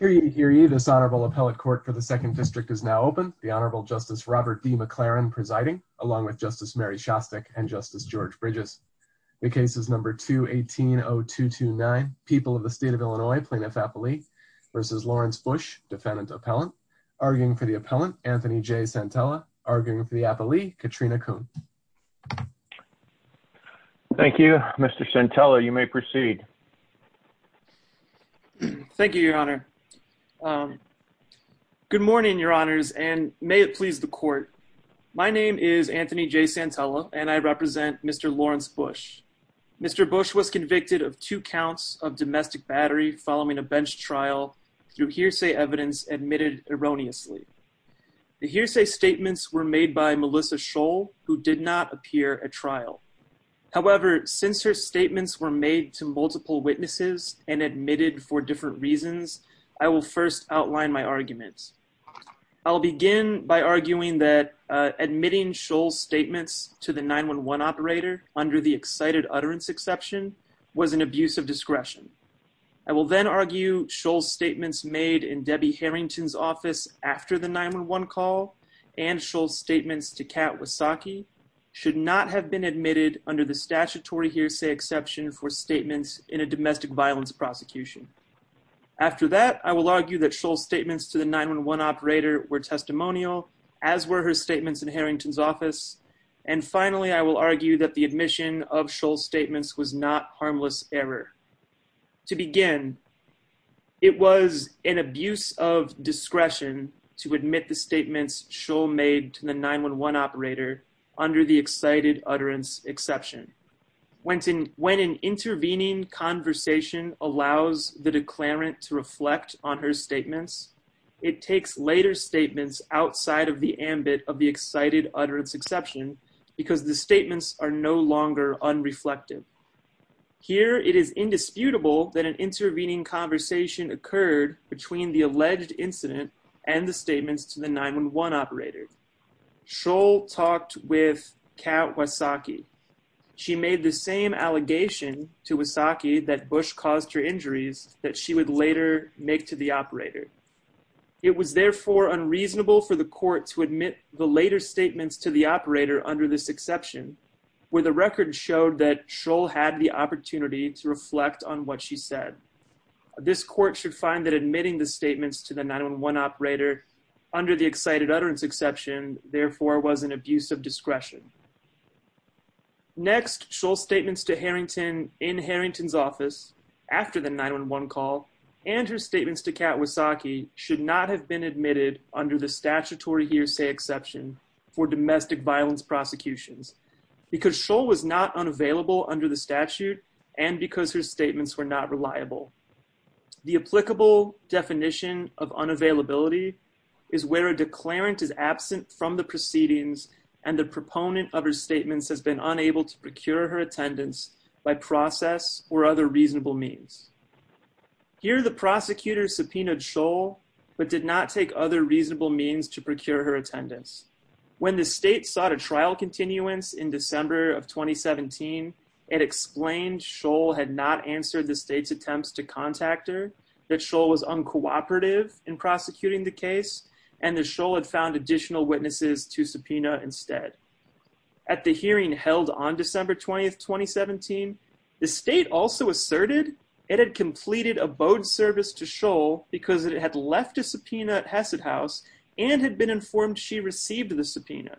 v. Lawrence Busch, Defendant Appellant, arguing for the appellant, Anthony J. Santella, arguing for the appellee, Katrina Coon. Thank you, Mr. Santella, you may proceed. Thank you, your Honor. Good morning, your Honors, and may it please the court, my name is Anthony J. Santella and I represent Mr. Lawrence Busch. Mr. Busch was convicted of two counts of domestic battery following a bench trial through hearsay evidence admitted erroneously. The hearsay statements were made by Melissa Scholl, who did not appear at trial. However, since her statements were made to multiple witnesses and admitted for different reasons, I will first outline my arguments. I'll begin by arguing that admitting Scholl's statements to the 911 operator under the excited utterance exception was an abuse of discretion. I will then argue Scholl's statements made in Debbie Harrington's office after the 911 call and Scholl's statements to Kat Wasacki should not have been admitted under the statutory hearsay exception for statements in a domestic violence prosecution. After that, I will argue that Scholl's statements to the 911 operator were testimonial, as were her statements in Harrington's office. And finally, I will argue that the admission of Scholl's statements was not harmless error. To begin, it was an abuse of discretion to admit the statements Scholl made to the 911 operator under the excited utterance exception. When an intervening conversation allows the declarant to reflect on her statements, it takes later statements outside of the ambit of the excited utterance exception because the statements are no longer unreflective. Here, it is indisputable that an intervening conversation occurred between the alleged incident and the statements to the 911 operator. Scholl talked with Kat Wasacki. She made the same allegation to Wasacki that Bush caused her injuries that she would later make to the operator. It was therefore unreasonable for the court to admit the later statements to the operator under this exception, where the record showed that Scholl had the opportunity to reflect on what she said. This court should find that admitting the statements to the 911 operator under the excited utterance exception, therefore, was an abuse of discretion. Next, Scholl's statements to Harrington in Harrington's office after the 911 call and her statements to Kat Wasacki should not have been admitted under the statutory hearsay exception for domestic violence prosecutions because Scholl was not unavailable under the statute and because her statements were not reliable. The applicable definition of unavailability is where a declarant is absent from the proceedings and the proponent of her statements has been unable to procure her attendance by process or other reasonable means. Here, the prosecutor subpoenaed Scholl, but did not take other reasonable means to procure her attendance. When the state sought a trial continuance in December of 2017, it explained Scholl had not answered the state's attempts to contact her, that Scholl was uncooperative in prosecuting the case, and that Scholl had found additional witnesses to subpoena instead. At the hearing held on December 20, 2017, the state also asserted it had completed a bode service to Scholl because it had left a subpoena at Hesed House and had been informed she received the subpoena.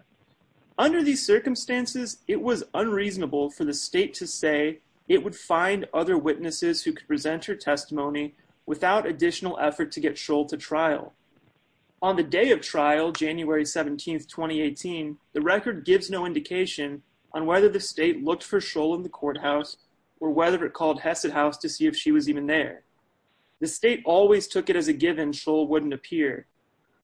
Under these circumstances, it was unreasonable for the state to say it would find other witnesses who could present her testimony without additional effort to get Scholl to trial. On the day of trial, January 17, 2018, the record gives no indication on whether the state looked for Scholl in the courthouse or whether it called Hesed House to see if she was even there. The state always took it as a given Scholl wouldn't appear.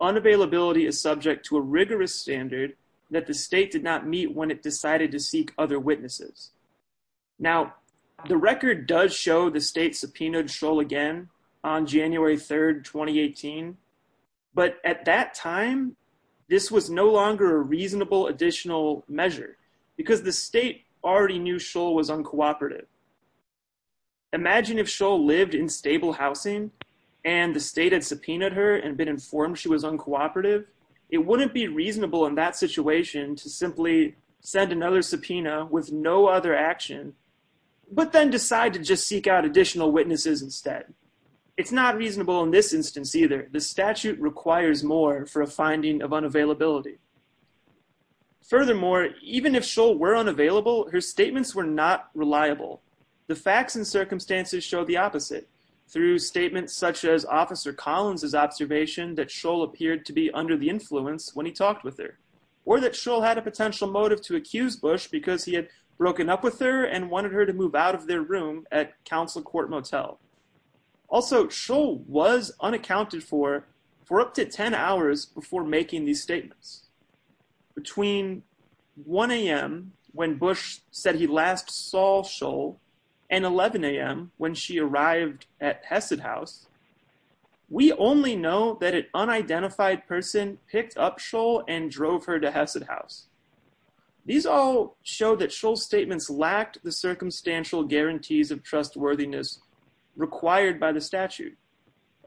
Unavailability is subject to a rigorous standard that the state did not meet when it decided to seek other witnesses. Now, the record does show the state subpoenaed Scholl again on January 3, 2018, but at that time, this was no longer a reasonable additional measure because the state already knew Scholl was uncooperative. Imagine if Scholl lived in stable housing and the state had subpoenaed her and been informed she was uncooperative. It wouldn't be reasonable in that situation to simply send another subpoena with no other action, but then decide to just seek out additional witnesses instead. It's not reasonable in this instance either. The statute requires more for a finding of unavailability. Furthermore, even if Scholl were unavailable, her statements were not reliable. The facts and circumstances show the opposite. Through statements such as Officer Collins' observation that Scholl appeared to be under the influence when he talked with her, or that Scholl had a potential motive to accuse Bush because he had broken up with her and wanted her to move out of their room at Council Court Motel. Also, Scholl was unaccounted for for up to 10 hours before making these statements. Between 1am when Bush said he last saw Scholl and 11am when she arrived at Hesed House, we only know that an unidentified person picked up Scholl and drove her to Hesed House. These all show that Scholl's statements lacked the circumstantial guarantees of trustworthiness required by the statute.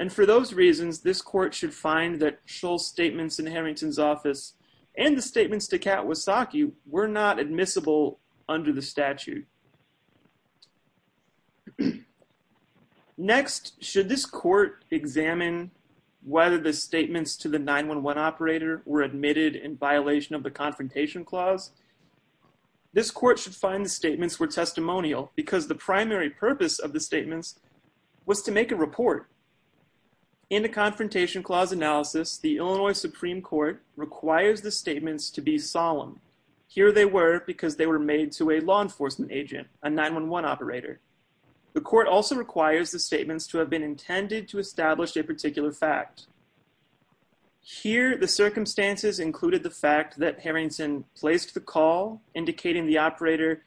And for those reasons, this court should find that Scholl's statements in Harrington's office and the statements to Kat Wasacki were not admissible under the statute. Next, should this court examine whether the statements to the 911 operator were admitted in violation of the Confrontation Clause? This court should find the statements were testimonial because the primary purpose of the statements was to make a report. In the Confrontation Clause analysis, the Illinois Supreme Court requires the statements to be solemn. Here they were because they were made to a law enforcement agent, a 911 operator. The court also requires the statements to have been intended to establish a particular fact. Here, the circumstances included the fact that Harrington placed the call indicating the operator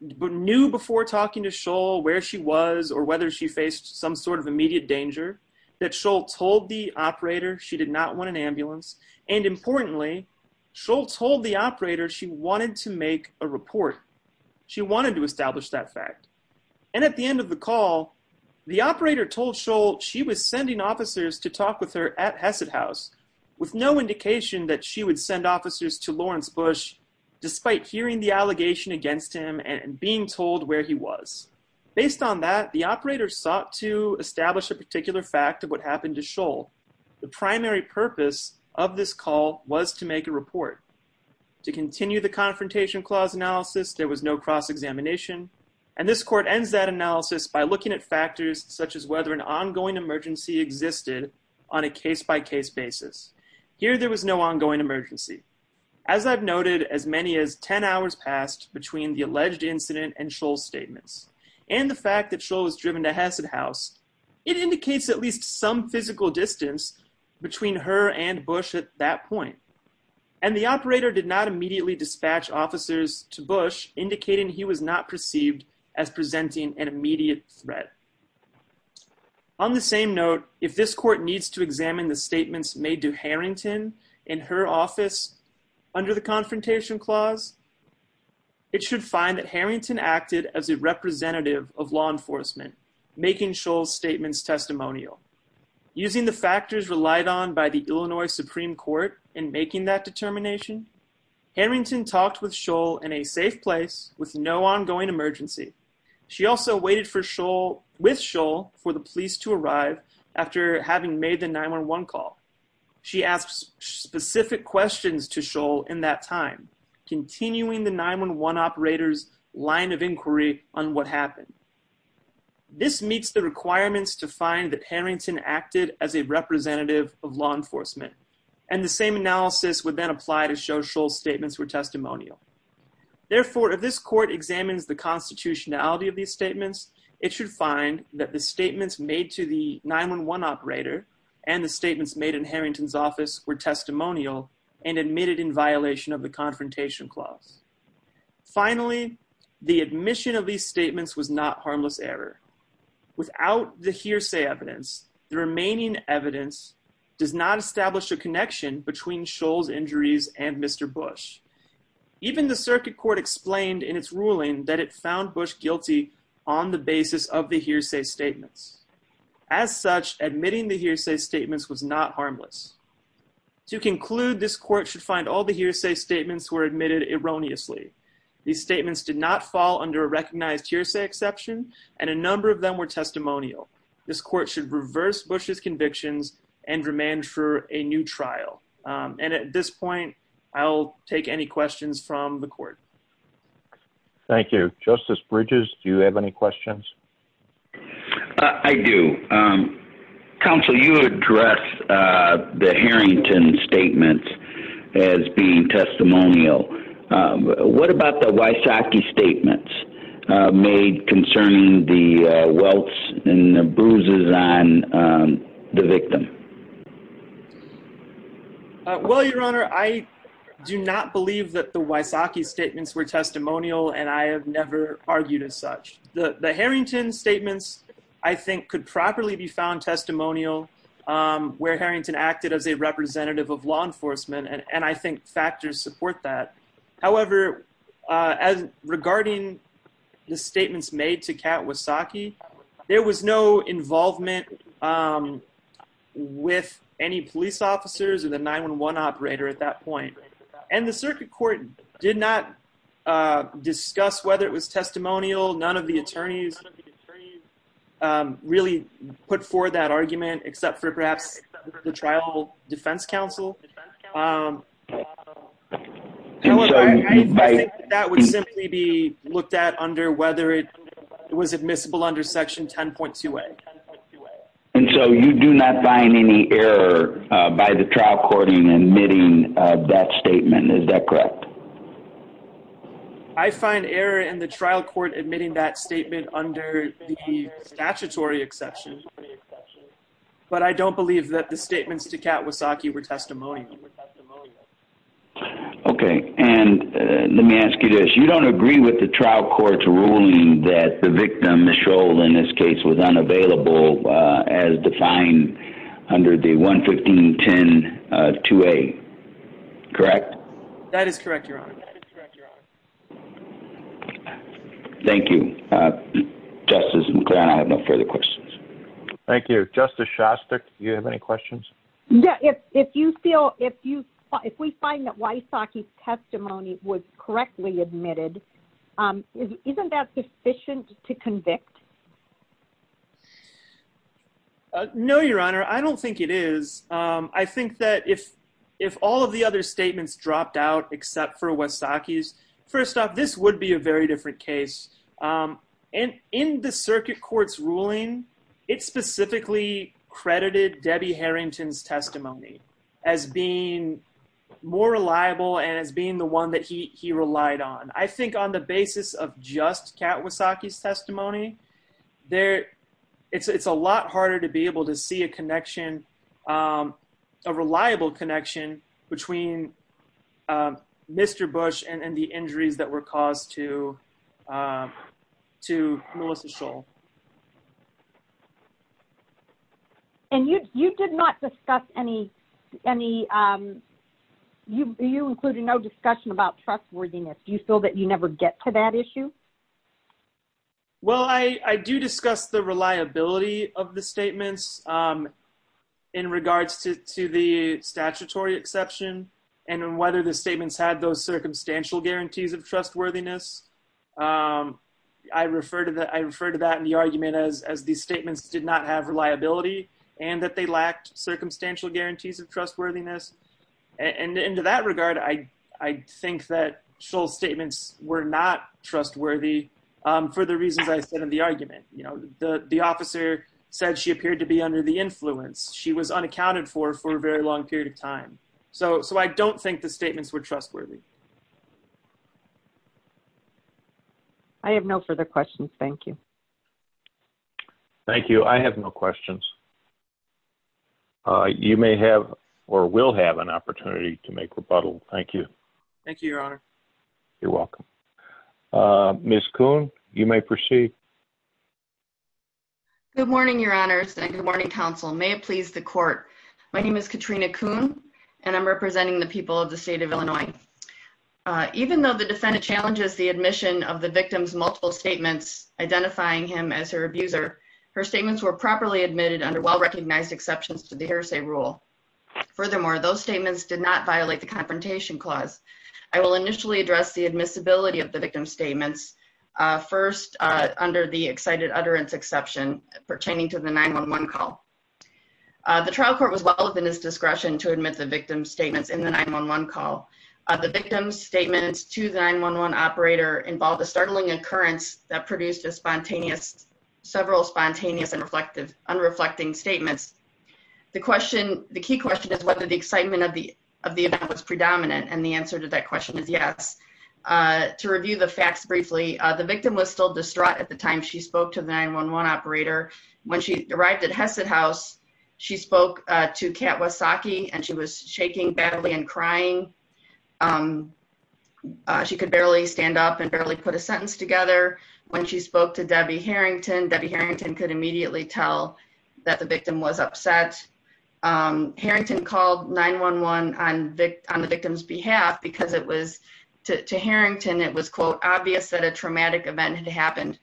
knew before talking to Scholl where she was or whether she faced some sort of immediate danger, that Scholl told the operator she did not want an ambulance, and importantly, Scholl told the operator she wanted to make a report. She wanted to establish that fact. And at the end of the call, the operator told Scholl she was sending officers to talk with her at Hesed House with no indication that she would send officers to Lawrence Bush, despite hearing the allegation against him and being told where he was. Based on that, the operator sought to establish a particular fact of what happened to Scholl. The primary purpose of this call was to make a report. To continue the Confrontation Clause analysis, there was no cross-examination. And this court ends that analysis by looking at factors such as whether an ongoing emergency existed on a case-by-case basis. Here, there was no ongoing emergency. As I've noted, as many as 10 hours passed between the alleged incident and Scholl's statements. And the fact that Scholl was driven to Hesed House, it indicates at least some physical distance between her and Bush at that point. And the operator did not immediately dispatch officers to Bush, indicating he was not perceived as presenting an immediate threat. On the same note, if this court needs to examine the statements made to Harrington in her office under the Confrontation Clause, it should find that Harrington acted as a representative of law enforcement, making Scholl's statements testimonial. Using the factors relied on by the Illinois Supreme Court in making that determination, Harrington talked with Scholl in a safe place with no ongoing emergency. She also waited with Scholl for the police to arrive after having made the 911 call. She asked specific questions to Scholl in that time, continuing the 911 operator's line of inquiry on what happened. This meets the requirements to find that Harrington acted as a representative of law enforcement. And the same analysis would then apply to show Scholl's statements were testimonial. Therefore, if this court examines the constitutionality of these statements, it should find that the statements made to the 911 operator and the statements made in Harrington's office were testimonial and admitted in violation of the Confrontation Clause. Finally, the admission of these statements was not harmless error. Without the hearsay evidence, the remaining evidence does not establish a connection between Scholl's injuries and Mr. Bush. Even the circuit court explained in its ruling that it found Bush guilty on the basis of the hearsay statements. As such, admitting the hearsay statements was not harmless. To conclude, this court should find all the hearsay statements were admitted erroneously. These statements did not fall under a recognized hearsay exception and a number of them were testimonial. This court should reverse Bush's convictions and remand for a new trial. And at this point, I'll take any questions from the court. Thank you. Justice Bridges, do you have any questions? I do. Counsel, you addressed the Harrington statements as being testimonial. What about the Wysocki statements made concerning the welts and the bruises on the victim? Well, Your Honor, I do not believe that the Wysocki statements were testimonial and I have never argued as such. The Harrington statements, I think, could properly be found testimonial where Harrington acted as a representative of law enforcement and I think factors support that. However, regarding the statements made to Kat Wysocki, there was no involvement with any police officers or the 911 operator at that point. And the circuit court did not discuss whether it was testimonial. None of the attorneys really put forward that argument except for perhaps the Tribal Defense Council. I think that would simply be looked at under whether it was admissible under Section 10.2a. And so you do not find any error by the trial court in admitting that statement. Is that correct? I find error in the trial court admitting that statement under the statutory exception, but I don't believe that the statements to Kat Wysocki were testimonial. Okay. And let me ask you this. You don't agree with the trial court's ruling that the victim, Michelle, in this case was unavailable as defined under the 115.10.2a, correct? That is correct, Your Honor. Thank you. Justice McGrann, I have no further questions. Thank you. Justice Shostak, do you have any questions? If we find that Wysocki's testimony was correctly admitted, isn't that sufficient to convict? No, Your Honor. I don't think it is. I think that if all of the other statements dropped out except for Wysocki's, first off, this would be a very different case. And in the circuit court's ruling, it specifically credited Debbie Harrington's testimony as being more reliable and as being the one that he relied on. It's a lot harder to be able to see a reliable connection between Mr. Bush and the injuries that were caused to Melissa Shull. And you included no discussion about trustworthiness. Do you feel that you never get to that issue? Well, I do discuss the reliability of the statements in regards to the statutory exception and whether the statements had those circumstantial guarantees of trustworthiness. I refer to that in the argument as these statements did not have reliability and that they lacked circumstantial guarantees of trustworthiness. And in that regard, I think that Shull's statements were not trustworthy for the reasons I said in the argument. The officer said she appeared to be under the influence. She was unaccounted for for a very long period of time. So I don't think the statements were trustworthy. I have no further questions. Thank you. Thank you. I have no questions. You may have or will have an opportunity to make rebuttal. Thank you. Thank you, Your Honor. You're welcome. Ms. Kuhn, you may proceed. Good morning, Your Honors and good morning, Counsel. May it please the court. My name is Katrina Kuhn and I'm representing the people of the state of Illinois. Even though the defendant challenges the admission of the victim's multiple statements identifying him as her abuser, her statements were properly admitted under well-recognized exceptions to the Hearsay Rule. Furthermore, those statements did not violate the Confrontation Clause. I will initially address the admissibility of the victim's statements. First, under the excited utterance exception pertaining to the 911 call. The trial court was well within its discretion to admit the victim's statements in the 911 call. The victim's statements to the 911 operator involved a startling occurrence that produced several spontaneous and unreflecting statements. The key question is whether the excitement of the event was predominant and the answer to that question is yes. To review the facts briefly, the victim was still distraught at the time she spoke to the 911 operator. When she arrived at Hesed House, she spoke to Kat Wasacki and she was shaking badly and crying. She could barely stand up and barely put a sentence together. When she spoke to Debbie Harrington, Debbie Harrington could immediately tell that the victim was upset. Harrington called 911 on the victim's behalf because it was, to Harrington, it was, quote, obvious that a traumatic event had happened.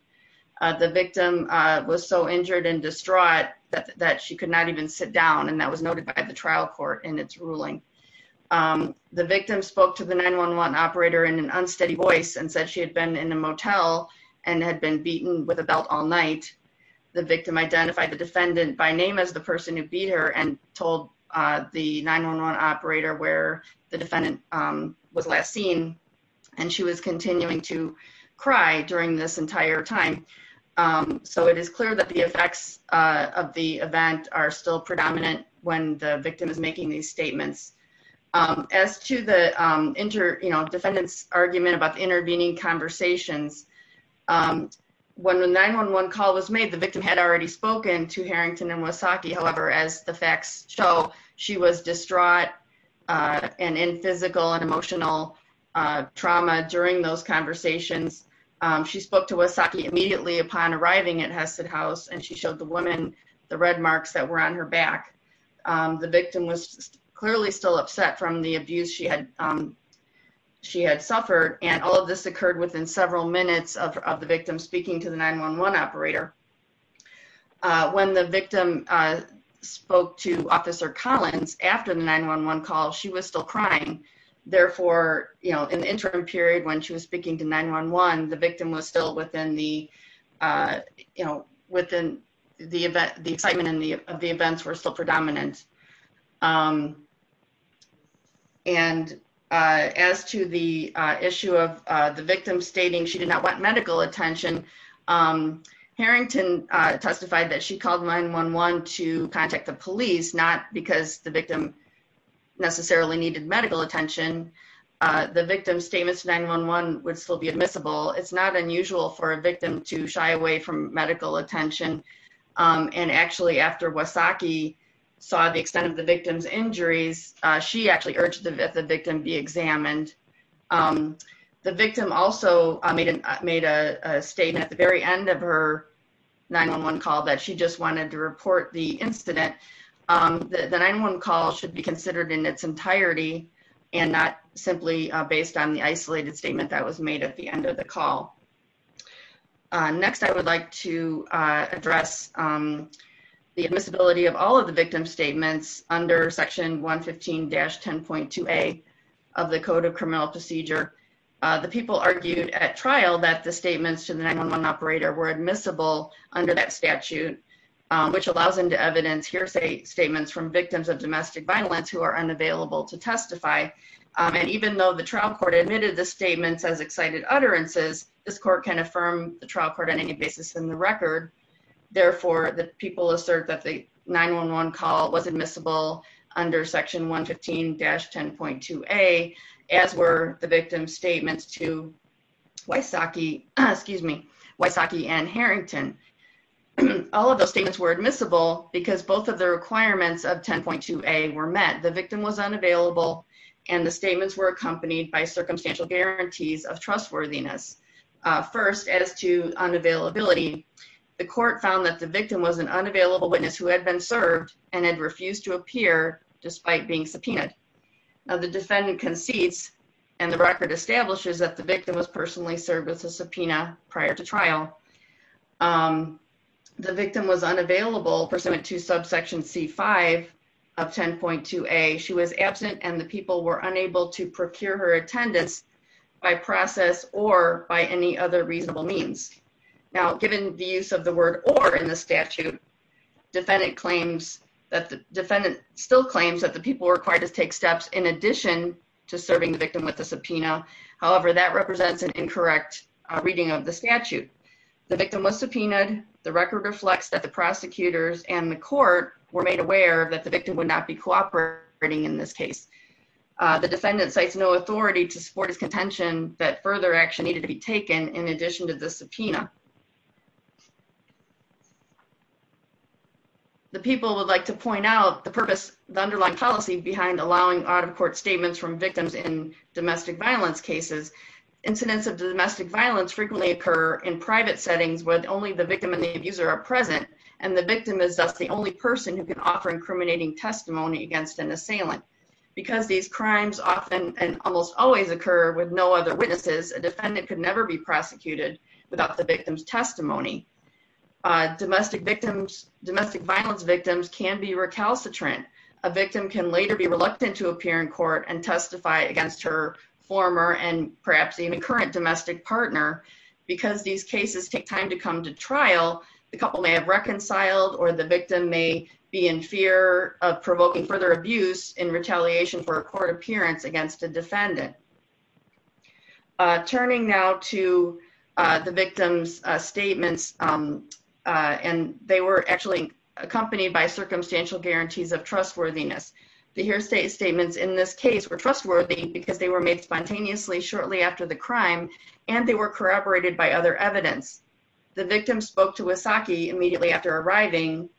The victim was so injured and distraught that she could not even sit down and that was noted by the trial court in its ruling. The victim spoke to the 911 operator in an unsteady voice and said she had been in a motel and had been beaten with a belt all night. The victim identified the defendant by name as the person who beat her and told the 911 operator where the defendant was last seen and she was continuing to cry during this entire time. So it is clear that the effects of the event are still predominant when the victim is making these statements. As to the defendant's argument about the intervening conversations, when the 911 call was made, the victim had already spoken to Harrington and Wasacki. However, as the facts show, she was distraught and in physical and emotional trauma during those conversations. She spoke to Wasacki immediately upon arriving at Hesed House and she showed the woman the red marks that were on her back. The victim was clearly still upset from the abuse she had suffered and all of this occurred within several minutes of the victim speaking to the 911 operator. When the victim spoke to Officer Collins after the 911 call, she was still crying. Therefore, in the interim period when she was speaking to 911, the excitement of the events were still predominant. As to the issue of the victim stating she did not want medical attention, Harrington testified that she called 911 to contact the police, not because the victim necessarily needed medical attention. The victim's statement to 911 would still be admissible. It's not unusual for a victim to shy away from medical attention. Actually, after Wasacki saw the extent of the victim's injuries, she actually urged the victim to be examined. The victim also made a statement at the very end of her 911 call that she just wanted to report the incident. The 911 call should be considered in its entirety and not simply based on the isolated statement that was made at the end of the call. Next, I would like to address the admissibility of all of the victim's statements under Section 115-10.2A of the Code of Criminal Procedure. The people argued at trial that the statements to the 911 operator were admissible under that statute, which allows them to evidence hearsay statements from victims of domestic violence who are unavailable to testify. Even though the trial court admitted the statements as excited utterances, this court can affirm the trial court on any basis in the record. Therefore, the people assert that the 911 call was admissible under Section 115-10.2A, as were the victim's statements to Wasacki and Harrington. All of those statements were admissible because both of the requirements of 10.2A were met. The victim was unavailable, and the statements were accompanied by circumstantial guarantees of trustworthiness. First, as to unavailability, the court found that the victim was an unavailable witness who had been served and had refused to appear despite being subpoenaed. The defendant concedes, and the record establishes that the victim was personally served with a subpoena prior to trial. The victim was unavailable pursuant to subsection C-5 of 10.2A. She was absent, and the people were unable to procure her attendance by process or by any other reasonable means. Now, given the use of the word or in the statute, the defendant still claims that the people were required to take steps in addition to serving the victim with a subpoena. That represents an incorrect reading of the statute. The victim was subpoenaed. The record reflects that the prosecutors and the court were made aware that the victim would not be cooperating in this case. The defendant cites no authority to support his contention that further action needed to be taken in addition to the subpoena. The people would like to point out the underlying policy behind allowing out-of-court statements from victims in domestic violence cases. Incidents of domestic violence frequently occur in private settings when only the victim and the abuser are present, and the victim is thus the only person who can offer incriminating testimony against an assailant. Because these crimes often and almost always occur with no other witnesses, a defendant could never be prosecuted without the victim's testimony. Domestic violence victims can be recalcitrant. A victim can later be reluctant to appear in court against her former and perhaps even current domestic partner. Because these cases take time to come to trial, the couple may have reconciled or the victim may be in fear of provoking further abuse in retaliation for a court appearance against a defendant. Turning now to the victim's statements, and they were actually accompanied by circumstantial guarantees of trustworthiness. The hearsay statements in this case were trustworthy because they were made spontaneously shortly after the crime, and they were corroborated by other evidence. The victim spoke to Wysocki immediately after arriving,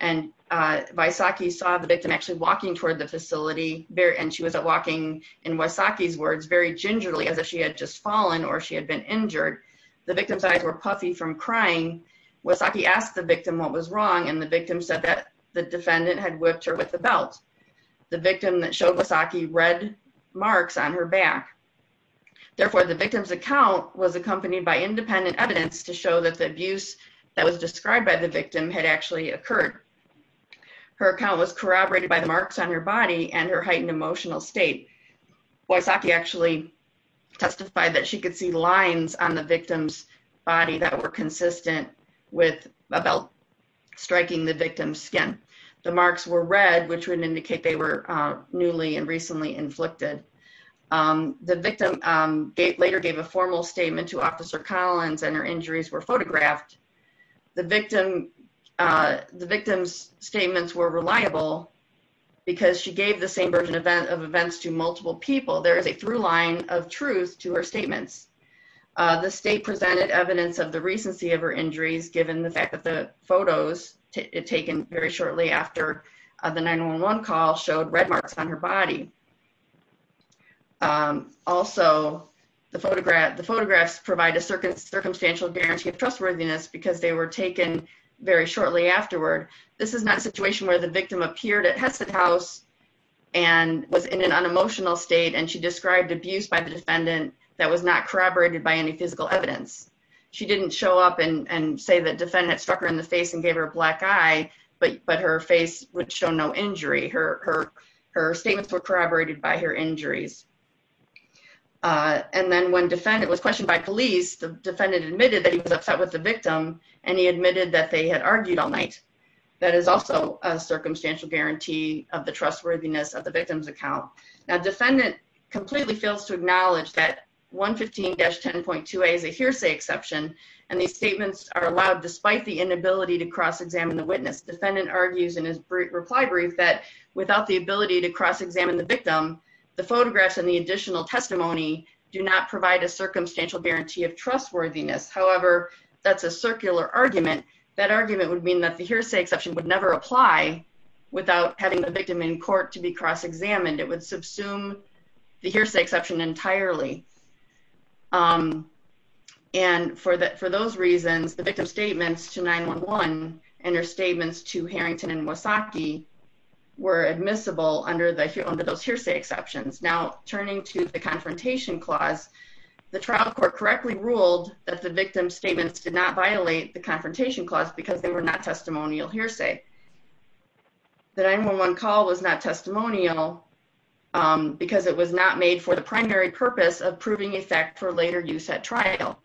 and Wysocki saw the victim actually walking toward the facility, and she was walking, in Wysocki's words, very gingerly as if she had just fallen or she had been injured. The victim's eyes were puffy from crying. Wysocki asked the victim what was wrong, and the victim said that the defendant had whipped her with a belt. The victim showed Wysocki red marks on her back. Therefore, the victim's account was accompanied by independent evidence to show that the abuse that was described by the victim had actually occurred. Her account was corroborated by the marks on her body and her heightened emotional state. Wysocki actually testified that she could see lines with a belt striking the victim's skin. The marks were red, which would indicate they were newly and recently inflicted. The victim later gave a formal statement to Officer Collins, and her injuries were photographed. The victim's statements were reliable because she gave the same version of events to multiple people. There is a through line of truth to her statements. The state presented evidence of the recency of her injuries given the fact that the photos taken very shortly after the 911 call showed red marks on her body. Also, the photographs provide a circumstantial guarantee of trustworthiness because they were taken very shortly afterward. This is not a situation where the victim appeared at Hesed House and was in an unemotional state, and she described abuse by the defendant that was not corroborated by any physical evidence. She didn't show up and say the defendant struck her in the face with a black eye, but her face would show no injury. Her statements were corroborated by her injuries. And then when the defendant was questioned by police, the defendant admitted that he was upset with the victim, and he admitted that they had argued all night. That is also a circumstantial guarantee of the trustworthiness of the victim's account. The defendant completely fails to acknowledge that 115-10.2a is a hearsay exception, and these statements are allowed despite the inability to cross-examine the witness. The defendant argues in his reply brief that without the ability to cross-examine the victim, the photographs and the additional testimony do not provide a circumstantial guarantee of trustworthiness. However, that's a circular argument. That argument would mean that the hearsay exception would never apply without having the victim in court to be cross-examined. It would subsume the hearsay exception entirely. And for those reasons, the victim's statements to 9-1-1 and her statements to Harrington and Wasaki were admissible under those hearsay exceptions. Now, turning to the confrontation clause, the trial court correctly ruled that the victim's statements did not violate the confrontation clause because they were not testimonial hearsay. The 9-1-1 call was not testimonial because it was not made for the primary purpose of proving effect for later use at trial.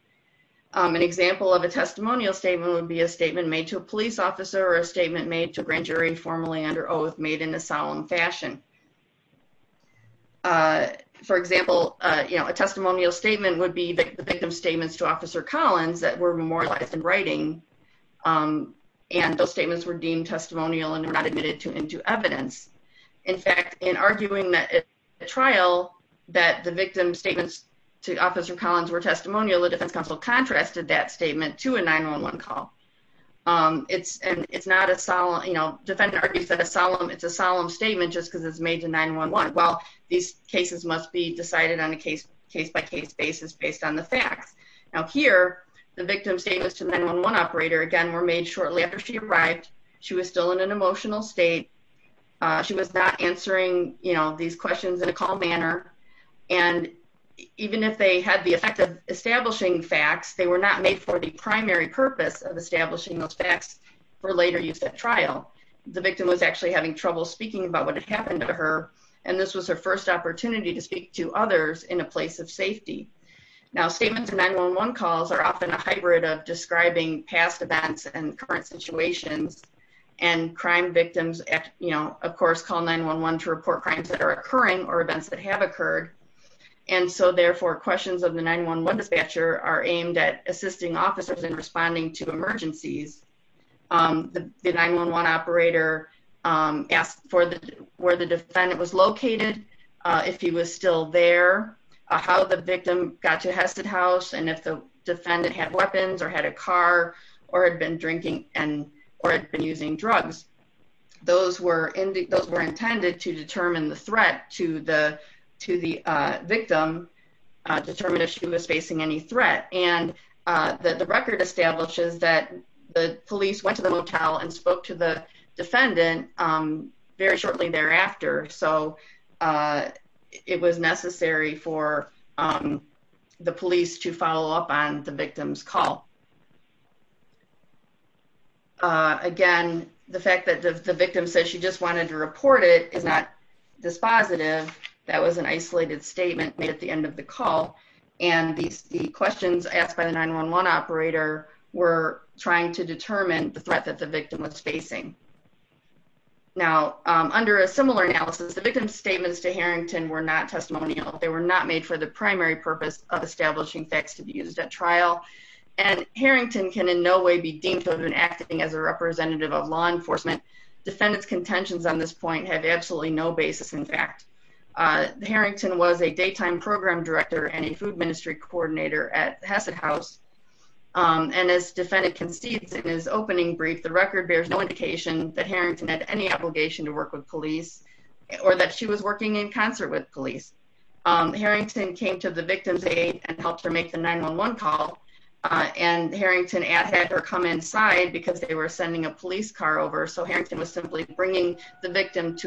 An example of a testimonial statement would be a statement made to a police officer or a statement made to a grand jury formally under oath made in a solemn fashion. For example, you know, a testimonial statement would be the victim's statements to Officer Collins that were memorialized in writing, and those statements were deemed testimonial and were not admitted into evidence. In fact, in arguing that at trial that the victim's statements to Officer Collins were testimonial, the defense counsel contrasted that statement to a 9-1-1 call. It's not a solemn, you know, defendant argues that it's a solemn statement just because it's made to 9-1-1. Well, these cases must be decided on a case-by-case basis based on the facts. Now, here, the victim's statements to the 9-1-1 operator, again, were made shortly after she arrived. She was still in an emotional state. She was not answering, you know, these questions in a calm manner, and even if they had the effect of establishing facts, they were not made for the primary purpose of establishing those facts for later use at trial. The victim was actually having trouble speaking about what had happened to her, and this was her first opportunity to speak to others in a place of safety. Now, statements to 9-1-1 calls are often a hybrid of describing past events and current situations, and crime victims, you know, of course, call 9-1-1 to report crimes that are occurring or events that have occurred, and so, therefore, statements to 9-1-1 dispatcher are aimed at assisting officers in responding to emergencies. The 9-1-1 operator asked for where the defendant was located, if he was still there, how the victim got to Hesed House, and if the defendant had weapons or had a car or had been drinking or had been using drugs. Those were intended to determine the threat to the victim, determine if she was facing any threat, and the record establishes that the police went to the motel and spoke to the defendant very shortly thereafter, so it was necessary for the police to follow up on the victim's call. Again, the fact that the victim said she just wanted to report it is not dispositive. That was an isolated statement at the end of the call, and the questions asked by the 9-1-1 operator were trying to determine the threat that the victim was facing. Now, under a similar analysis, the victim's statements to Harrington were not testimonial. They were not made for the primary purpose of establishing facts to be used at trial, and Harrington can in no way be deemed to have been acting as a representative of law enforcement. Defendant's contentions on this point have absolutely no basis in fact. The defendant is a program director and a food ministry coordinator at Hassett House, and as defendant concedes in his opening brief, the record bears no indication that Harrington had any obligation to work with police or that she was working in concert with police. Harrington came to the victim's aid and helped her make the 9-1-1 call, and Harrington had her come inside because they were sending a police car over, so Harrington was simply interrogating the victim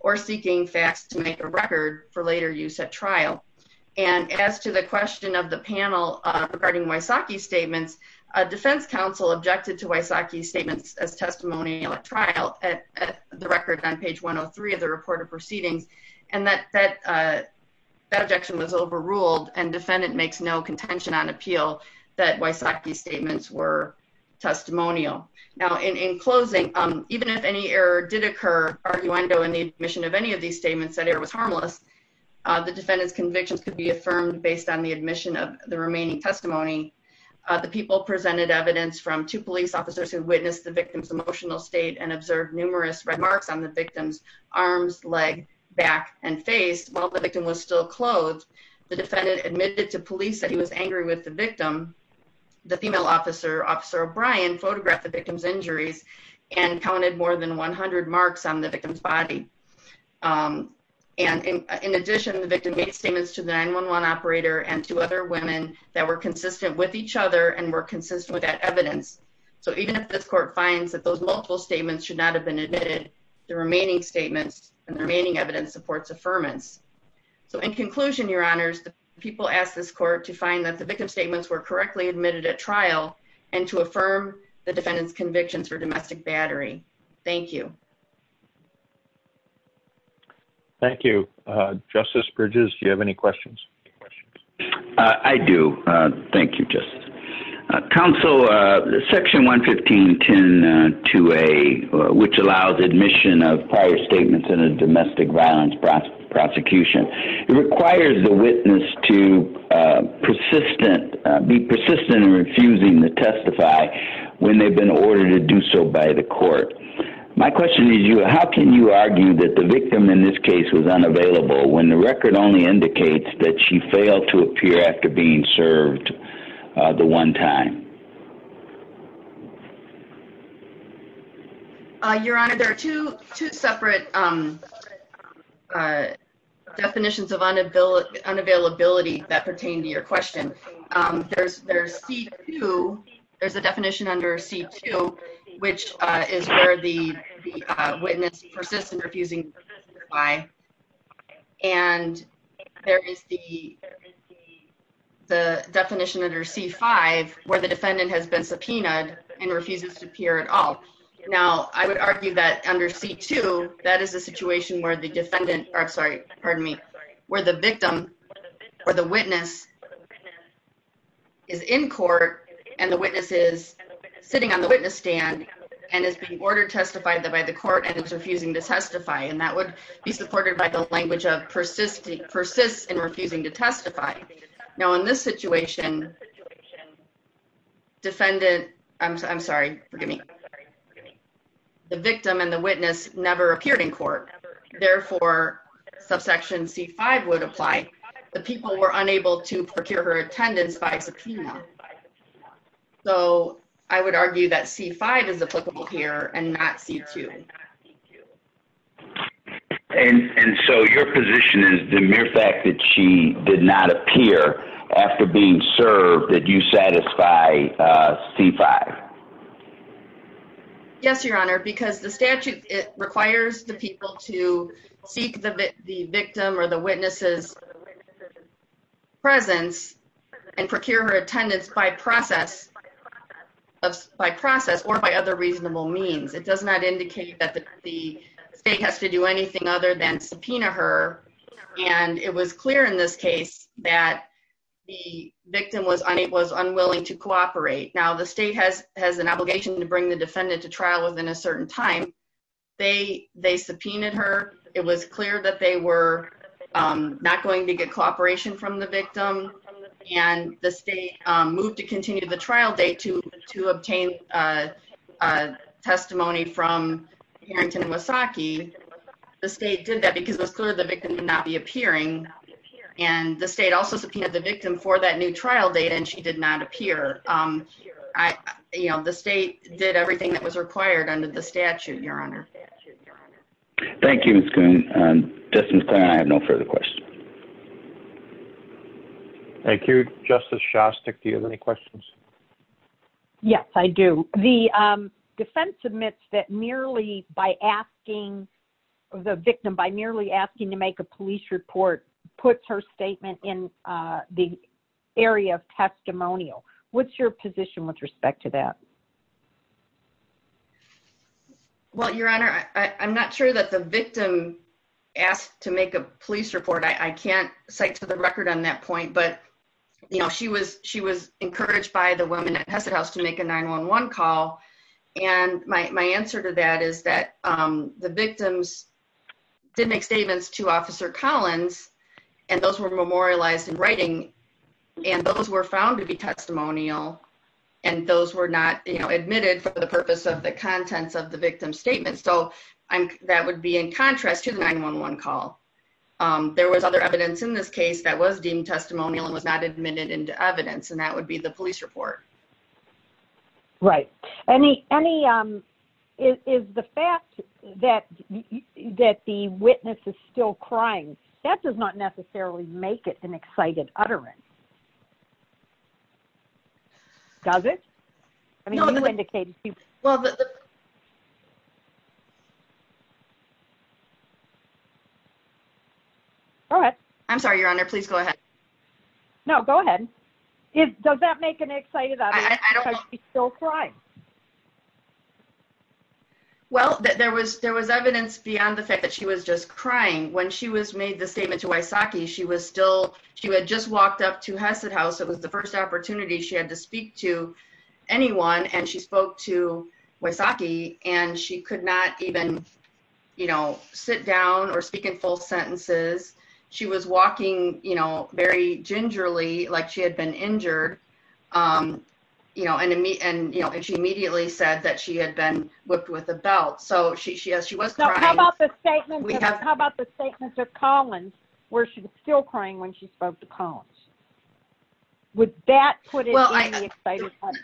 or seeking facts to make a record for later use at trial. And as to the question of the panel regarding Wysocki's statements, a defense counsel objected to Wysocki's statements as testimonial at trial at the record on page 103 of the report of proceedings, and that objection was overruled, and defendant makes no contention on appeal that Wysocki's statements were testimonial. Now, in closing, as did occur arguendo in the admission of any of these statements that Harrington was harmless, the defendant's convictions could be affirmed based on the admission of the remaining testimony. The people presented evidence from two police officers who witnessed the victim's emotional state and observed numerous red marks on the victim's arms, leg, back, and face. While the victim was still clothed, the defendant admitted to police that he was angry with the victim. The female officer, Officer O'Brien, also observed numerous red marks on the victim's body. And in addition, the victim made statements to the 911 operator and to other women that were consistent with each other and were consistent with that evidence. So even if this court finds that those multiple statements should not have been admitted, the remaining statements and the remaining evidence supports affirmance. So in conclusion, Your Honors, thank you. Thank you. Justice Bridges, do you have any questions? I do. Thank you, Justice. Counsel, Section 11510-2A, which allows admission of prior statements in a domestic violence prosecution, requires the witness to be persistent in refusing to testify when they've been ordered to do so by the court. So how can you argue that the victim in this case was unavailable when the record only indicates that she failed to appear after being served the one time? Your Honor, there are two separate definitions of unavailability that pertain to your question. There's C-2. There's a definition under C-2, which is where the witness persists in refusing to testify. And there is the definition under C-5, where the defendant has been subpoenaed and refuses to appear at all. Now, I would argue that under C-2, that is a situation where the defendant, or I'm sorry, pardon me, where the victim or the witness is in court and the witness is sitting on the witness stand and is being ordered to testify by the court and is refusing to testify. And that would be supported by the language of persists in refusing to testify. Now, in this situation, defendant, I'm sorry, pardon me, the victim and the witness never appeared in court. Therefore, subsection C-5 would apply. The people were unable to procure her attendance by subpoena. So I would argue that C-5 is applicable here and not C-2. And so your position is the mere fact that she did not appear after being served that you satisfy C-5. Yes, Your Honor, because the statute, it requires the people to seek the victim or the witness's presence and attendance by process or by other reasonable means. It does not indicate that the state has to do anything other than subpoena her. And it was clear in this case that the victim was unwilling to cooperate. Now, the state has an obligation to bring the defendant to trial within a certain time. They subpoenaed her. It was clear that they were not going to get cooperation until the state moved to continue the trial date to obtain a testimony from Harrington Wasaki. The state did that because it was clear the victim would not be appearing. And the state also subpoenaed the victim for that new trial date and she did not appear. The state did everything that was required under the statute, Your Honor. Thank you, Ms. Coon. Justice Kline, I have no further questions. Thank you. Justice Shostak, do you have any questions? Yes, I do. The defense admits that merely by asking the victim, by merely asking to make a police report, puts her statement in the area of testimonial. What's your position with respect to that? Well, Your Honor, I'm not sure that the victim asked to make a police report. I can't cite to the record on that point, but, you know, she was encouraged by the women at Hesed House to make a 911 call. And my answer to that is that the victims did make statements to Officer Collins and those were memorialized in writing and those were found to be testimonial and those were not, you know, admitted for the purpose of the contents of the victim's statement. So, that would be in contrast to the 911 call. There was other evidence in this case that was deemed testimonial and was not admitted into evidence and that would be the police report. Right. Any... Is the fact that the witness is still crying, that does not necessarily make it an excited utterance? Does it? I mean, you indicated... Well, go ahead. I'm sorry, Your Honor, please go ahead. No, go ahead. Does that make an excited utterance because she's still crying? Well, there was evidence beyond the fact that she was just crying. When she was made the statement to Wysocki, she was still... She had just walked up It was the first opportunity she had to speak to anyone and she spoke to Wysocki and she could not even do that. She could not even sit down or speak in full sentences. She was walking very gingerly like she had been injured and she immediately said that she had been whipped with a belt. So, yes, she was crying. How about the statement to Collins where she was still crying when she spoke to Collins? Would that put it in the excited utterance?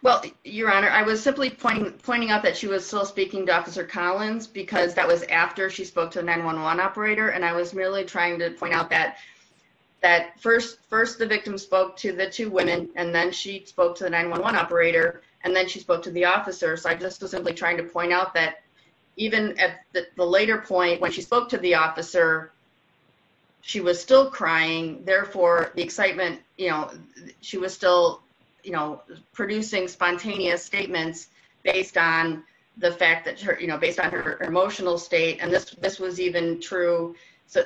Well, Your Honor, I was simply pointing out that she was still speaking to Officer Collins because that was after she spoke to the 911 operator and I was merely trying to point out that first, the victim spoke to the two women and then she spoke to the 911 operator and then she spoke to the officer. So, I just was simply trying to point out that even at the later point when she spoke to the officer, she was still crying. Therefore, the excitement, you know, she was still, you know, making spontaneous statements based on the fact that, you know, based on her emotional state and this was even true. So,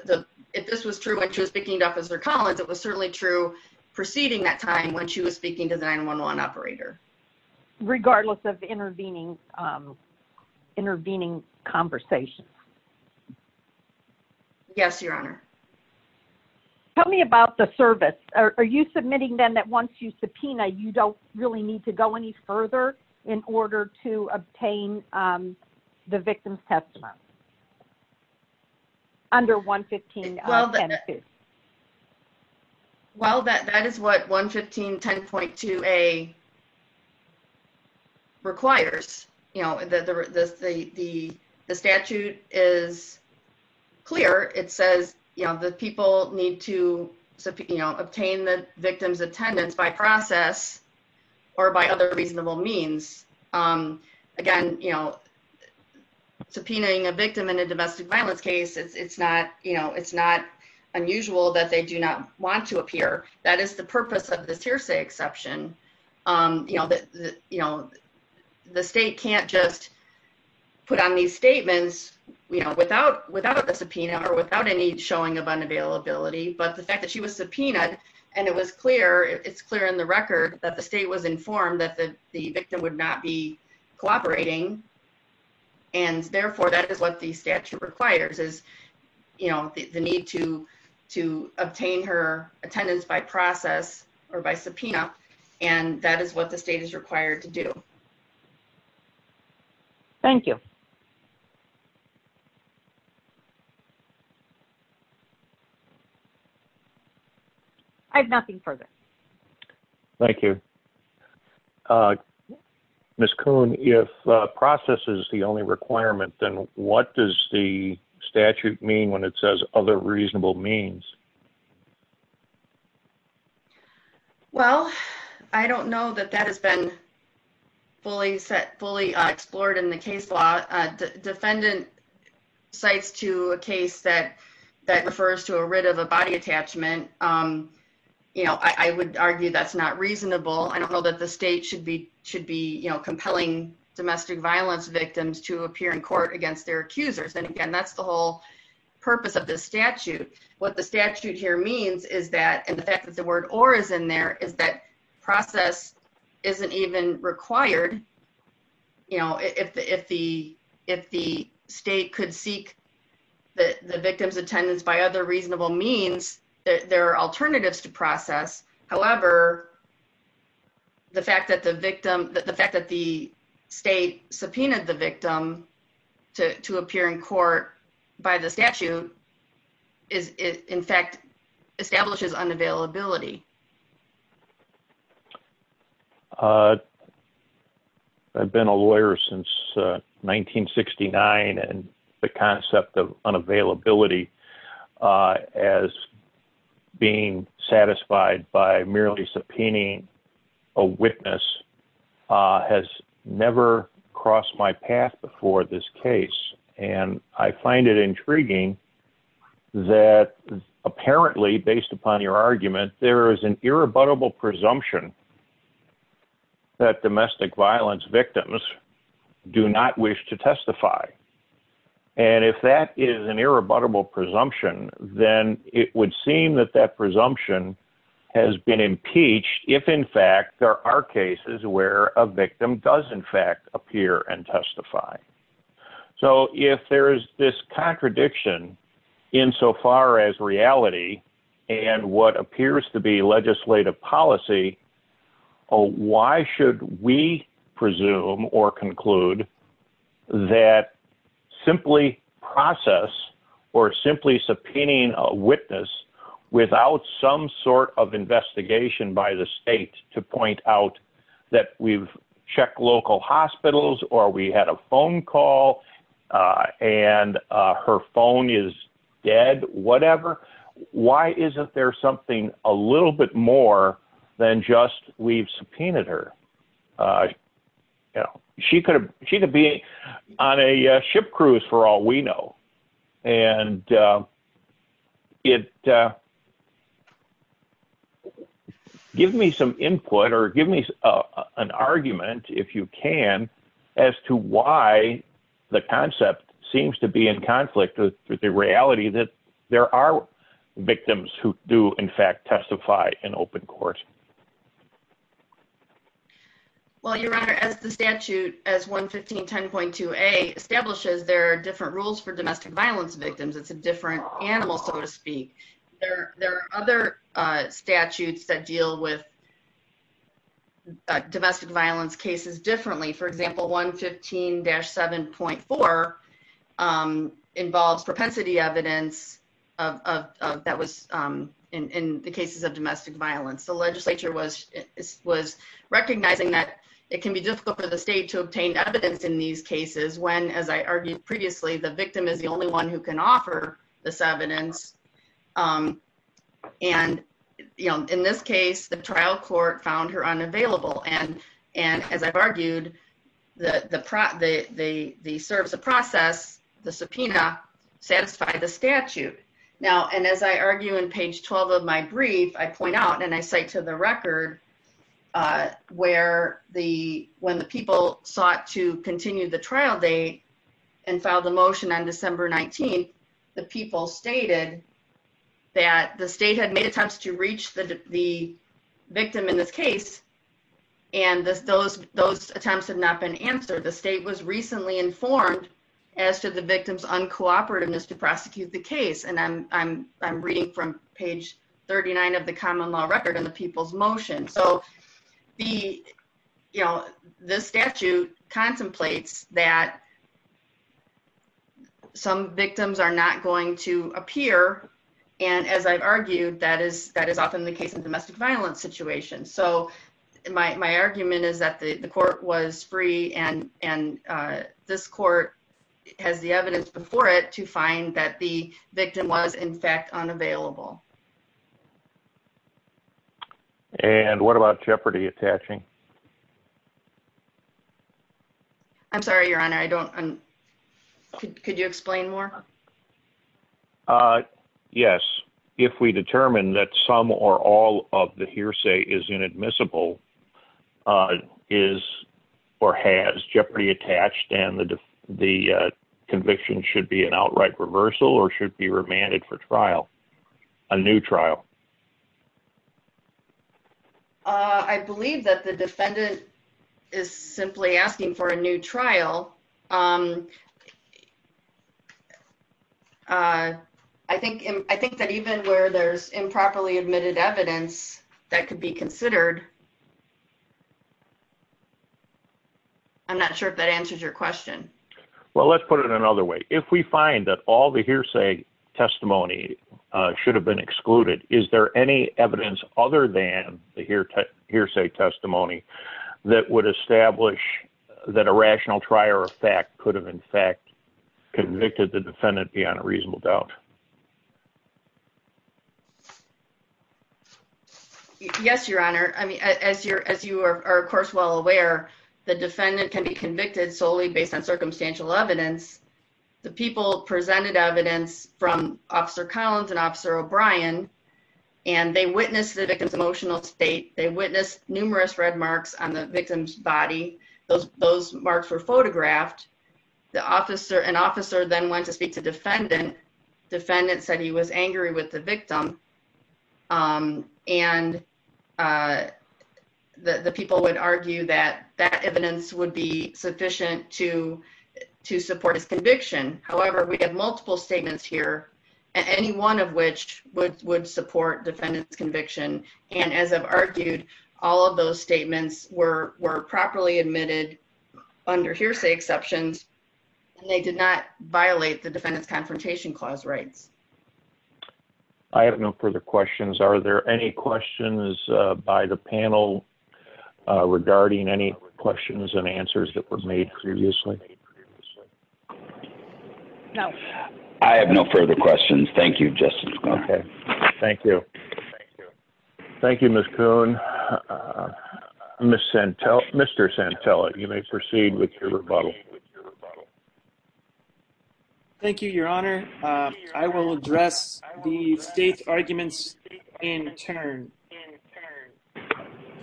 if this was true when she was speaking to Officer Collins, it was certainly true preceding that time when she was speaking to the 911 operator. Regardless of intervening, intervening conversations. Yes, Your Honor. Tell me about the service. Are you submitting then that once you subpoena, you don't really need to go any further in order to obtain the victim's testimony under 115.10.2? Well, that is what 115.10.2a requires. You know, the statute is clear. It says, you know, the people need to, you know, obtain the victim's attendance by process or by other reasonable means. Again, you know, subpoenaing a victim in a domestic violence case, it's not, you know, it's not unusual that they do not want to appear. That is the purpose of this hearsay exception. You know, the state can't just put on these statements, you know, without a subpoena or without any showing of unavailability. But the fact that she was subpoenaed and it was clear, it's clear in the record that the state was informed that the victim would not be cooperating and therefore, that is what the statute requires is, you know, the need to to obtain her attendance by process or by subpoena and that is what the state is required to do. Thank you. I have nothing further. Thank you. Ms. Kuhn, if process is the only requirement, then what does the statute mean when it says other reasonable means? Well, I don't know that that has been fully set, fully explored in the case law. Defendant cites to a case that refers to a writ of a body attachment. You know, I would argue that's not reasonable. I don't know that the state should be, should be, you know, compelling domestic violence victims to appear in court against their accusers and again, that's the whole purpose of this statute. What the statute here means is that and the fact that the word or is in there is that process isn't even required, you know, if the, if the state could seek the victim's attendance by other reasonable means, there are alternatives to process. However, the fact that the victim, the fact that the state the victim to appear in court by the statute is in fact establishes unavailability. I've been a lawyer since 1969 and the concept of unavailability as being satisfied by merely subpoenaing a witness has never crossed my path before this case and I find it intriguing that apparently based upon your argument, there is an irrebuttable presumption that domestic violence victims do not wish to testify. And if that is an irrebuttable presumption, then it would seem that that presumption has been impeached if in fact there are cases where a victim does in fact appear and testify. So if there is this contradiction insofar as reality and what appears to be legislative policy, why should we presume or conclude that simply process or simply subpoenaing a witness without some sort of investigation by the state to point out that we've checked local hospitals or we had a phone call and her phone is dead, whatever, why isn't there something more than just subpoenaed her? She could be on a ship cruise for all we know. And it gives me some input or gives me an argument if you can as to why the concept seems to be in conflict with the reality that there are victims who do in fact testify in open court. Well, your honor, as the statute establishes there are different rules for domestic violence victims, it's a different animal, so to speak. There are other statutes that deal with domestic violence cases differently. For example, 115-7.4 involves propensity evidence that was in the cases of domestic violence. The legislature was recognizing that it can be difficult for the state to obtain evidence in these cases when the victim is the only one who can offer this evidence and in this case the trial court found her unavailable and as I've argued, the process, the subpoena, satisfied the statute. And as I argue in page 12 of my brief, I point out and I cite to the record when the people sought to continue the trial date and filed the subpoena, was informed as to the victim in this case and those attempts have not been answered. The state was recently informed as to the victim's uncooperativeness to prosecute the case. I'm reading from page 39 of the common law record on the people's motion. This statute contemplates that some victims are not going to appear and as I've argued, that is often the case of domestic violence situation. So my argument is that the court was free and this court has the evidence before it to find that the victim was in fact unavailable. And what about jeopardy attaching? I'm sorry, your honor. Could you explain more? Yes. If we determine that some or all of the hearsay is inadmissible is or has jeopardy attached and the conviction should be an outright reversal or should be remanded for a new trial. I believe that the defendant is simply asking for a new trial. I think that even where there's improperly admitted evidence that could be considered, I'm not sure if that answers your question. Let's put it another way. If we find that all the hearsay testimony should have been excluded, is there any evidence other than the hearsay testimony that would establish that a rational trial or fact could have in fact convicted the defendant beyond a reasonable doubt? Yes, your honor. As you are, of course, well aware, the defendant can be convicted based on circumstantial evidence. The people presented evidence from officer Collins and officer O'Brien, and they witnessed the victim's emotional state, they witnessed numerous red marks on the victim's body. Those marks were photographed. An officer then went to speak to defendant, defendant said he was angry with the victim, and the people would argue that that evidence would be sufficient to support his conviction. However, we have multiple statements here, any one of which would support defendant's conviction, and as I've argued, all of those statements were properly admitted under hearsay exceptions, and they did not violate the defendant's confrontation clause rights. I have no further questions. Are there any questions by the panel regarding any questions and answers that were made previously? No. I have no further questions. Thank you, Justice. Okay. Thank you. Thank you, Ms. Coon. Mr. Santella, you may proceed with Thank you, Your Honor. I will address the state's arguments in turn.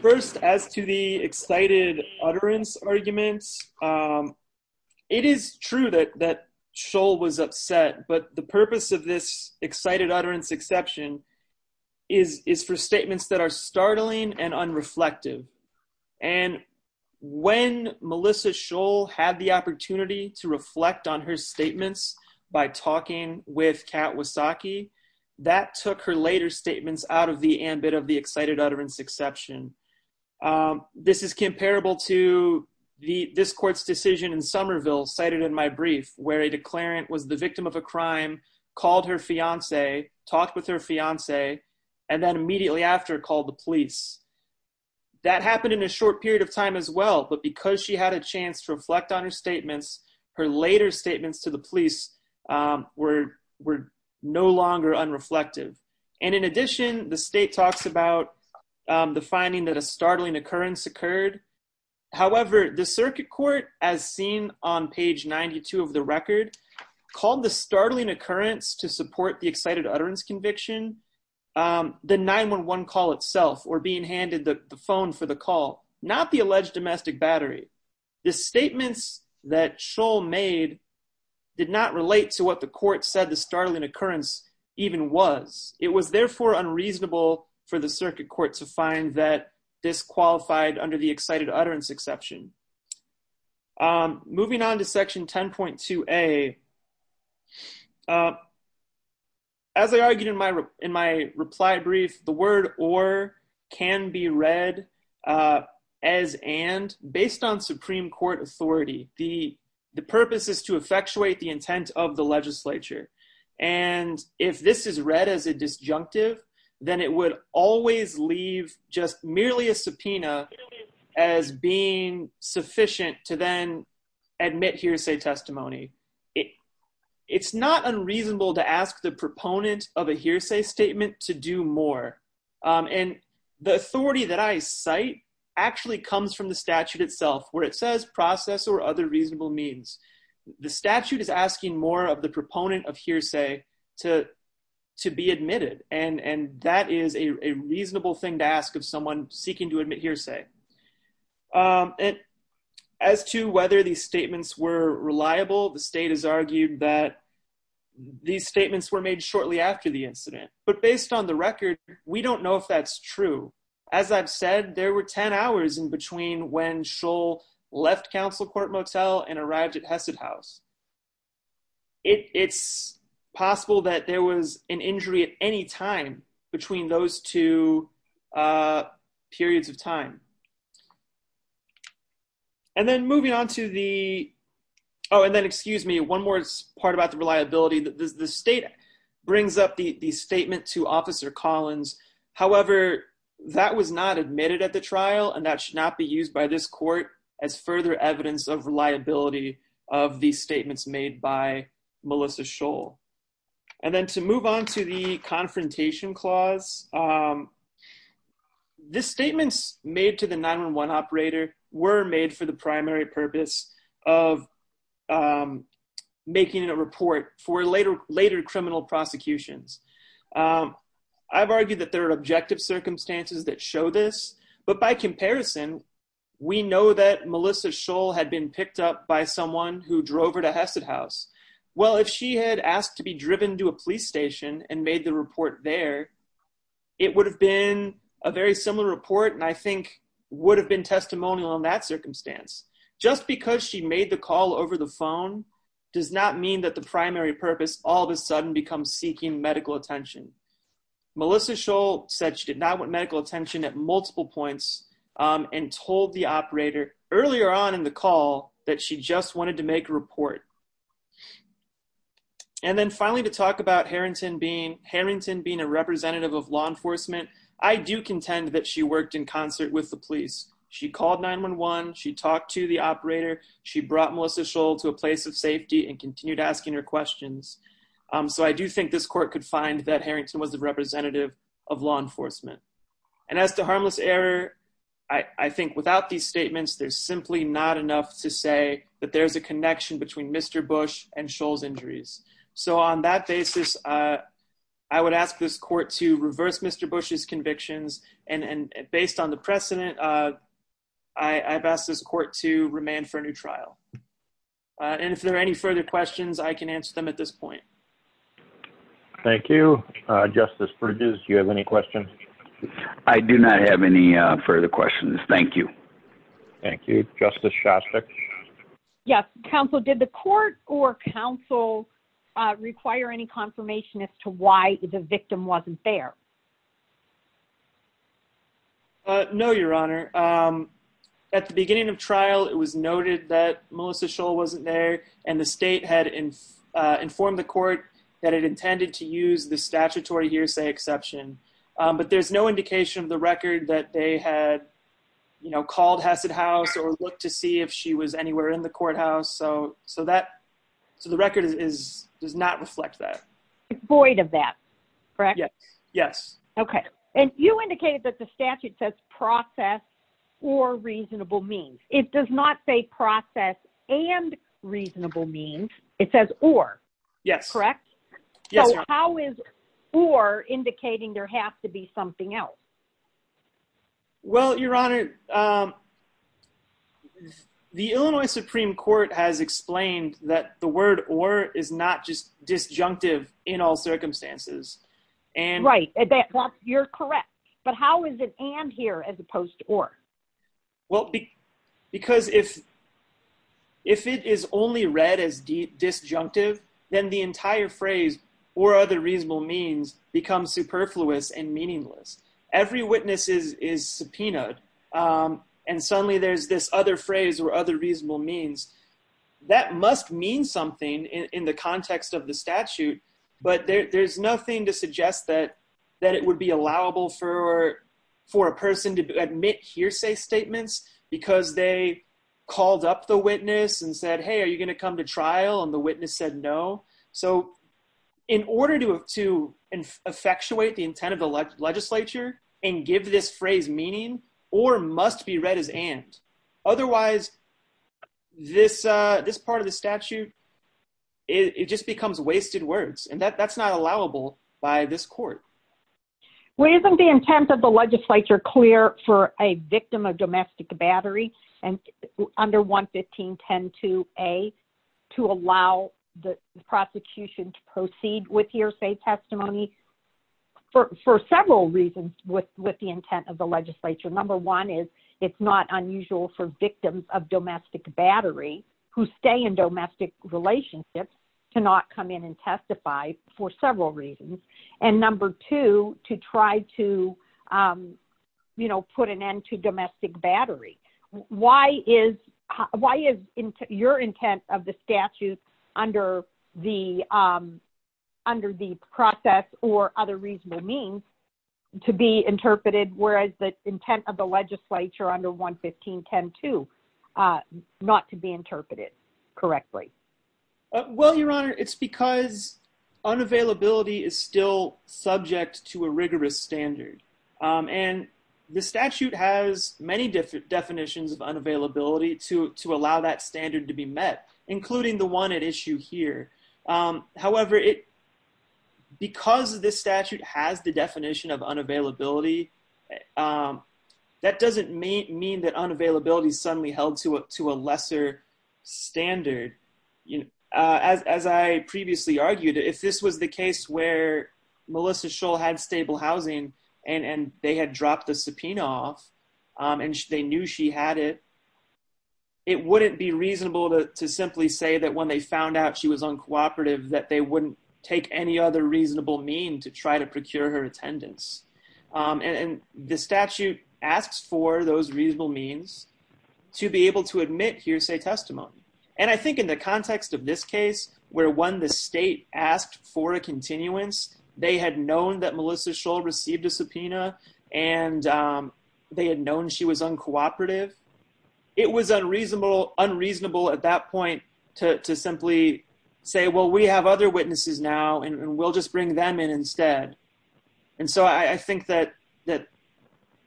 First, as to the excited utterance of the state's arguments, it is true that Scholl was upset, but the purpose of this excited utterance exception is for statements that are startling and unreflective, and when Melissa Scholl had the opportunity to reflect on her statements by talking with Kat Wasacki, that took her later statements out of the ambit of the excited utterance exception. This is comparable to this court's decision in Somerville, cited in my brief, where a declarant was the victim of a crime, called her fiance, talked with her fiance, and then immediately after called the police. That happened in a short period of time as well, but because she had a chance to reflect on her statements, her later statements to the police were no longer unreflective. In addition, the state talks about the finding that a startling occurrence occurred. However, the circuit court, as seen on page 92 of the record, called the startling occurrence to support the excited utterance conviction the 911 call itself, or being the occurrence. The circuit court did not relate to what the court said the startling occurrence even was. It was therefore unreasonable for the circuit court to find that disqualified under the excited utterance exception. Moving on to section 10.2a, as I argued in my reply brief, the word or can be read as and based on Supreme Court authority. The purpose is to effectuate the intent of the legislature. If this is read as a disjunctive, it would always leave merely a subpoena as being sufficient to then admit hearsay to the reason I cite this as a hearsay testimony, it's not unreasonable to ask the proponent of a hearsay statement to do more. The authority that I cite actually comes from the statute itself where it says process or other reasonable means. The statute is asking more of the proponent of hearsay to be admitted. And that is a reasonable thing to ask of someone seeking to admit hearsay. As to whether these statements were reliable, the state has argued that these statements were made shortly after the incident. But based on the record, we don't know if that's true. As I've said, there were 10 hours in between when Scholl left council court motel and arrived at Hesed house. It's possible that there was an injury at any time between those two periods of time. And then moving on to the oh, and then excuse me, one more point. The state brings up the statement to officer Collins. However, that was not admitted at the trial and that should not be used by this court as further evidence of reliability of these statements made by Melissa Scholl. And then to move on to the next the state is making a report for later criminal prosecutions. I've argued that there are objective circumstances that show this, but by comparison, we know that Melissa Scholl had been picked up by someone who drove her to Hesed house. Well, if she had asked to be up, that would not mean that the primary purpose all of a sudden becomes seeking medical attention. Melissa Scholl said she did not want medical attention at multiple points and told the operator earlier on in the call that she just was not fact that she was being questioned. I do think this court could find that Harrington was a representative of law enforcement. As to harmless error, I think without these statements, there's not enough to say that there is a connection between Mr. Bush and Scholl's injuries. I would ask this court to reverse Mr. Bush's convictions and based on the precedent, I have asked this court to remain for a new trial. If there are any further questions, I can answer them at this point. Thank you. Justice Bridges, do you have any questions? I do not have any further questions. Thank you. Thank you. Justice Shostak? Yes. Counsel, did the court or counsel require any confirmation as to why the victim wasn't there? No, Your Honor. At the beginning of trial, it was noted that Melissa Scholl wasn't there and the state had informed the court that it intended to use the statutory hearsay exception, but there is no indication of the record that they had called Hesed House or looked to see if she was anywhere in the courthouse. So the record does not reflect that. Void of that, correct? Yes. Okay. And you indicated that the statute says process or reasonable means. It does not say process and reasonable means. It says or. Yes. Correct? Yes, Your Honor. So how is or indicating there has to be something else? Well, Your Honor, the Illinois Supreme Court has explained that the word or is not just disjunctive in all circumstances. Right. You're correct. But how is it and here as opposed to or? Well, because if it is only read as disjunctive, then the entire phrase or other reasonable means becomes superfluous and meaningless. Every witness is subpoenaed and suddenly there's this other phrase or other reasonable means. That must mean something in the context of the statute. But there's nothing to suggest that that it would be allowable for a person to admit hearsay statements because they called up the witness and said, hey, are you going to come to trial? And the witness said no. So in order to effectuate the intent of the legislature and give this phrase meaning or must be read as and. Otherwise, this part of the statute, it just becomes wasted words and that's not allowable by this court. Well, isn't the intent of the legislature clear for a victim of domestic battery and under 115.10.2a to allow the prosecution to proceed with hearsay testimony for several reasons with the intent of the legislature. Number one, it's not unusual for victims of domestic battery who stay in domestic relationships to not come in and testify for several reasons. And number two, to try to put an end to domestic battery. Why is your intent of the statute under the process or other reasonable means to be interpreted whereas the intent of the legislature under 115.10.2 not to be interpreted correctly? Well, Your Honor, it's because unavailability is still subject to a rigorous standard. And the statute has many different definitions of unavailability to allow that standard to be met, including the one at issue here. However, because this statute has the definition of unavailability, that doesn't mean that unavailability is suddenly held to a lesser standard. As I previously argued, if this was the case where Melissa Shull had stable housing and they had dropped the subpoena off, and they knew she had it, it wouldn't be reasonable to simply say that when they found out she was uncooperative that they wouldn't take any other reasonable means to try to procure her attendance. And the statute asks for those reasonable means to be able to admit hearsay testimony. And I think in the context of this case where when the state asked for a continuance, they had known that Melissa Shull received a subpoena and they had known she was uncooperative, it was unreasonable at that point to simply say we have other witnesses now and we'll just bring them in instead. So I think that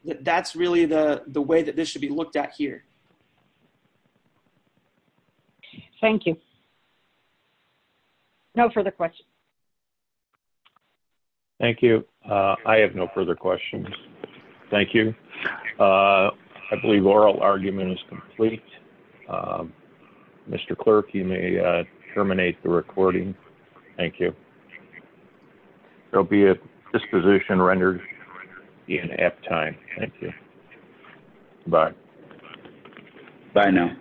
that's really the way that this should be looked at here. Thank you. No further questions. Thank you. I have no further questions. Thank you. I believe oral argument is complete. Mr. Clerk, you may terminate the recording. Thank you. There will be a disposition rendered in after time. Thank you. Bye. Bye now.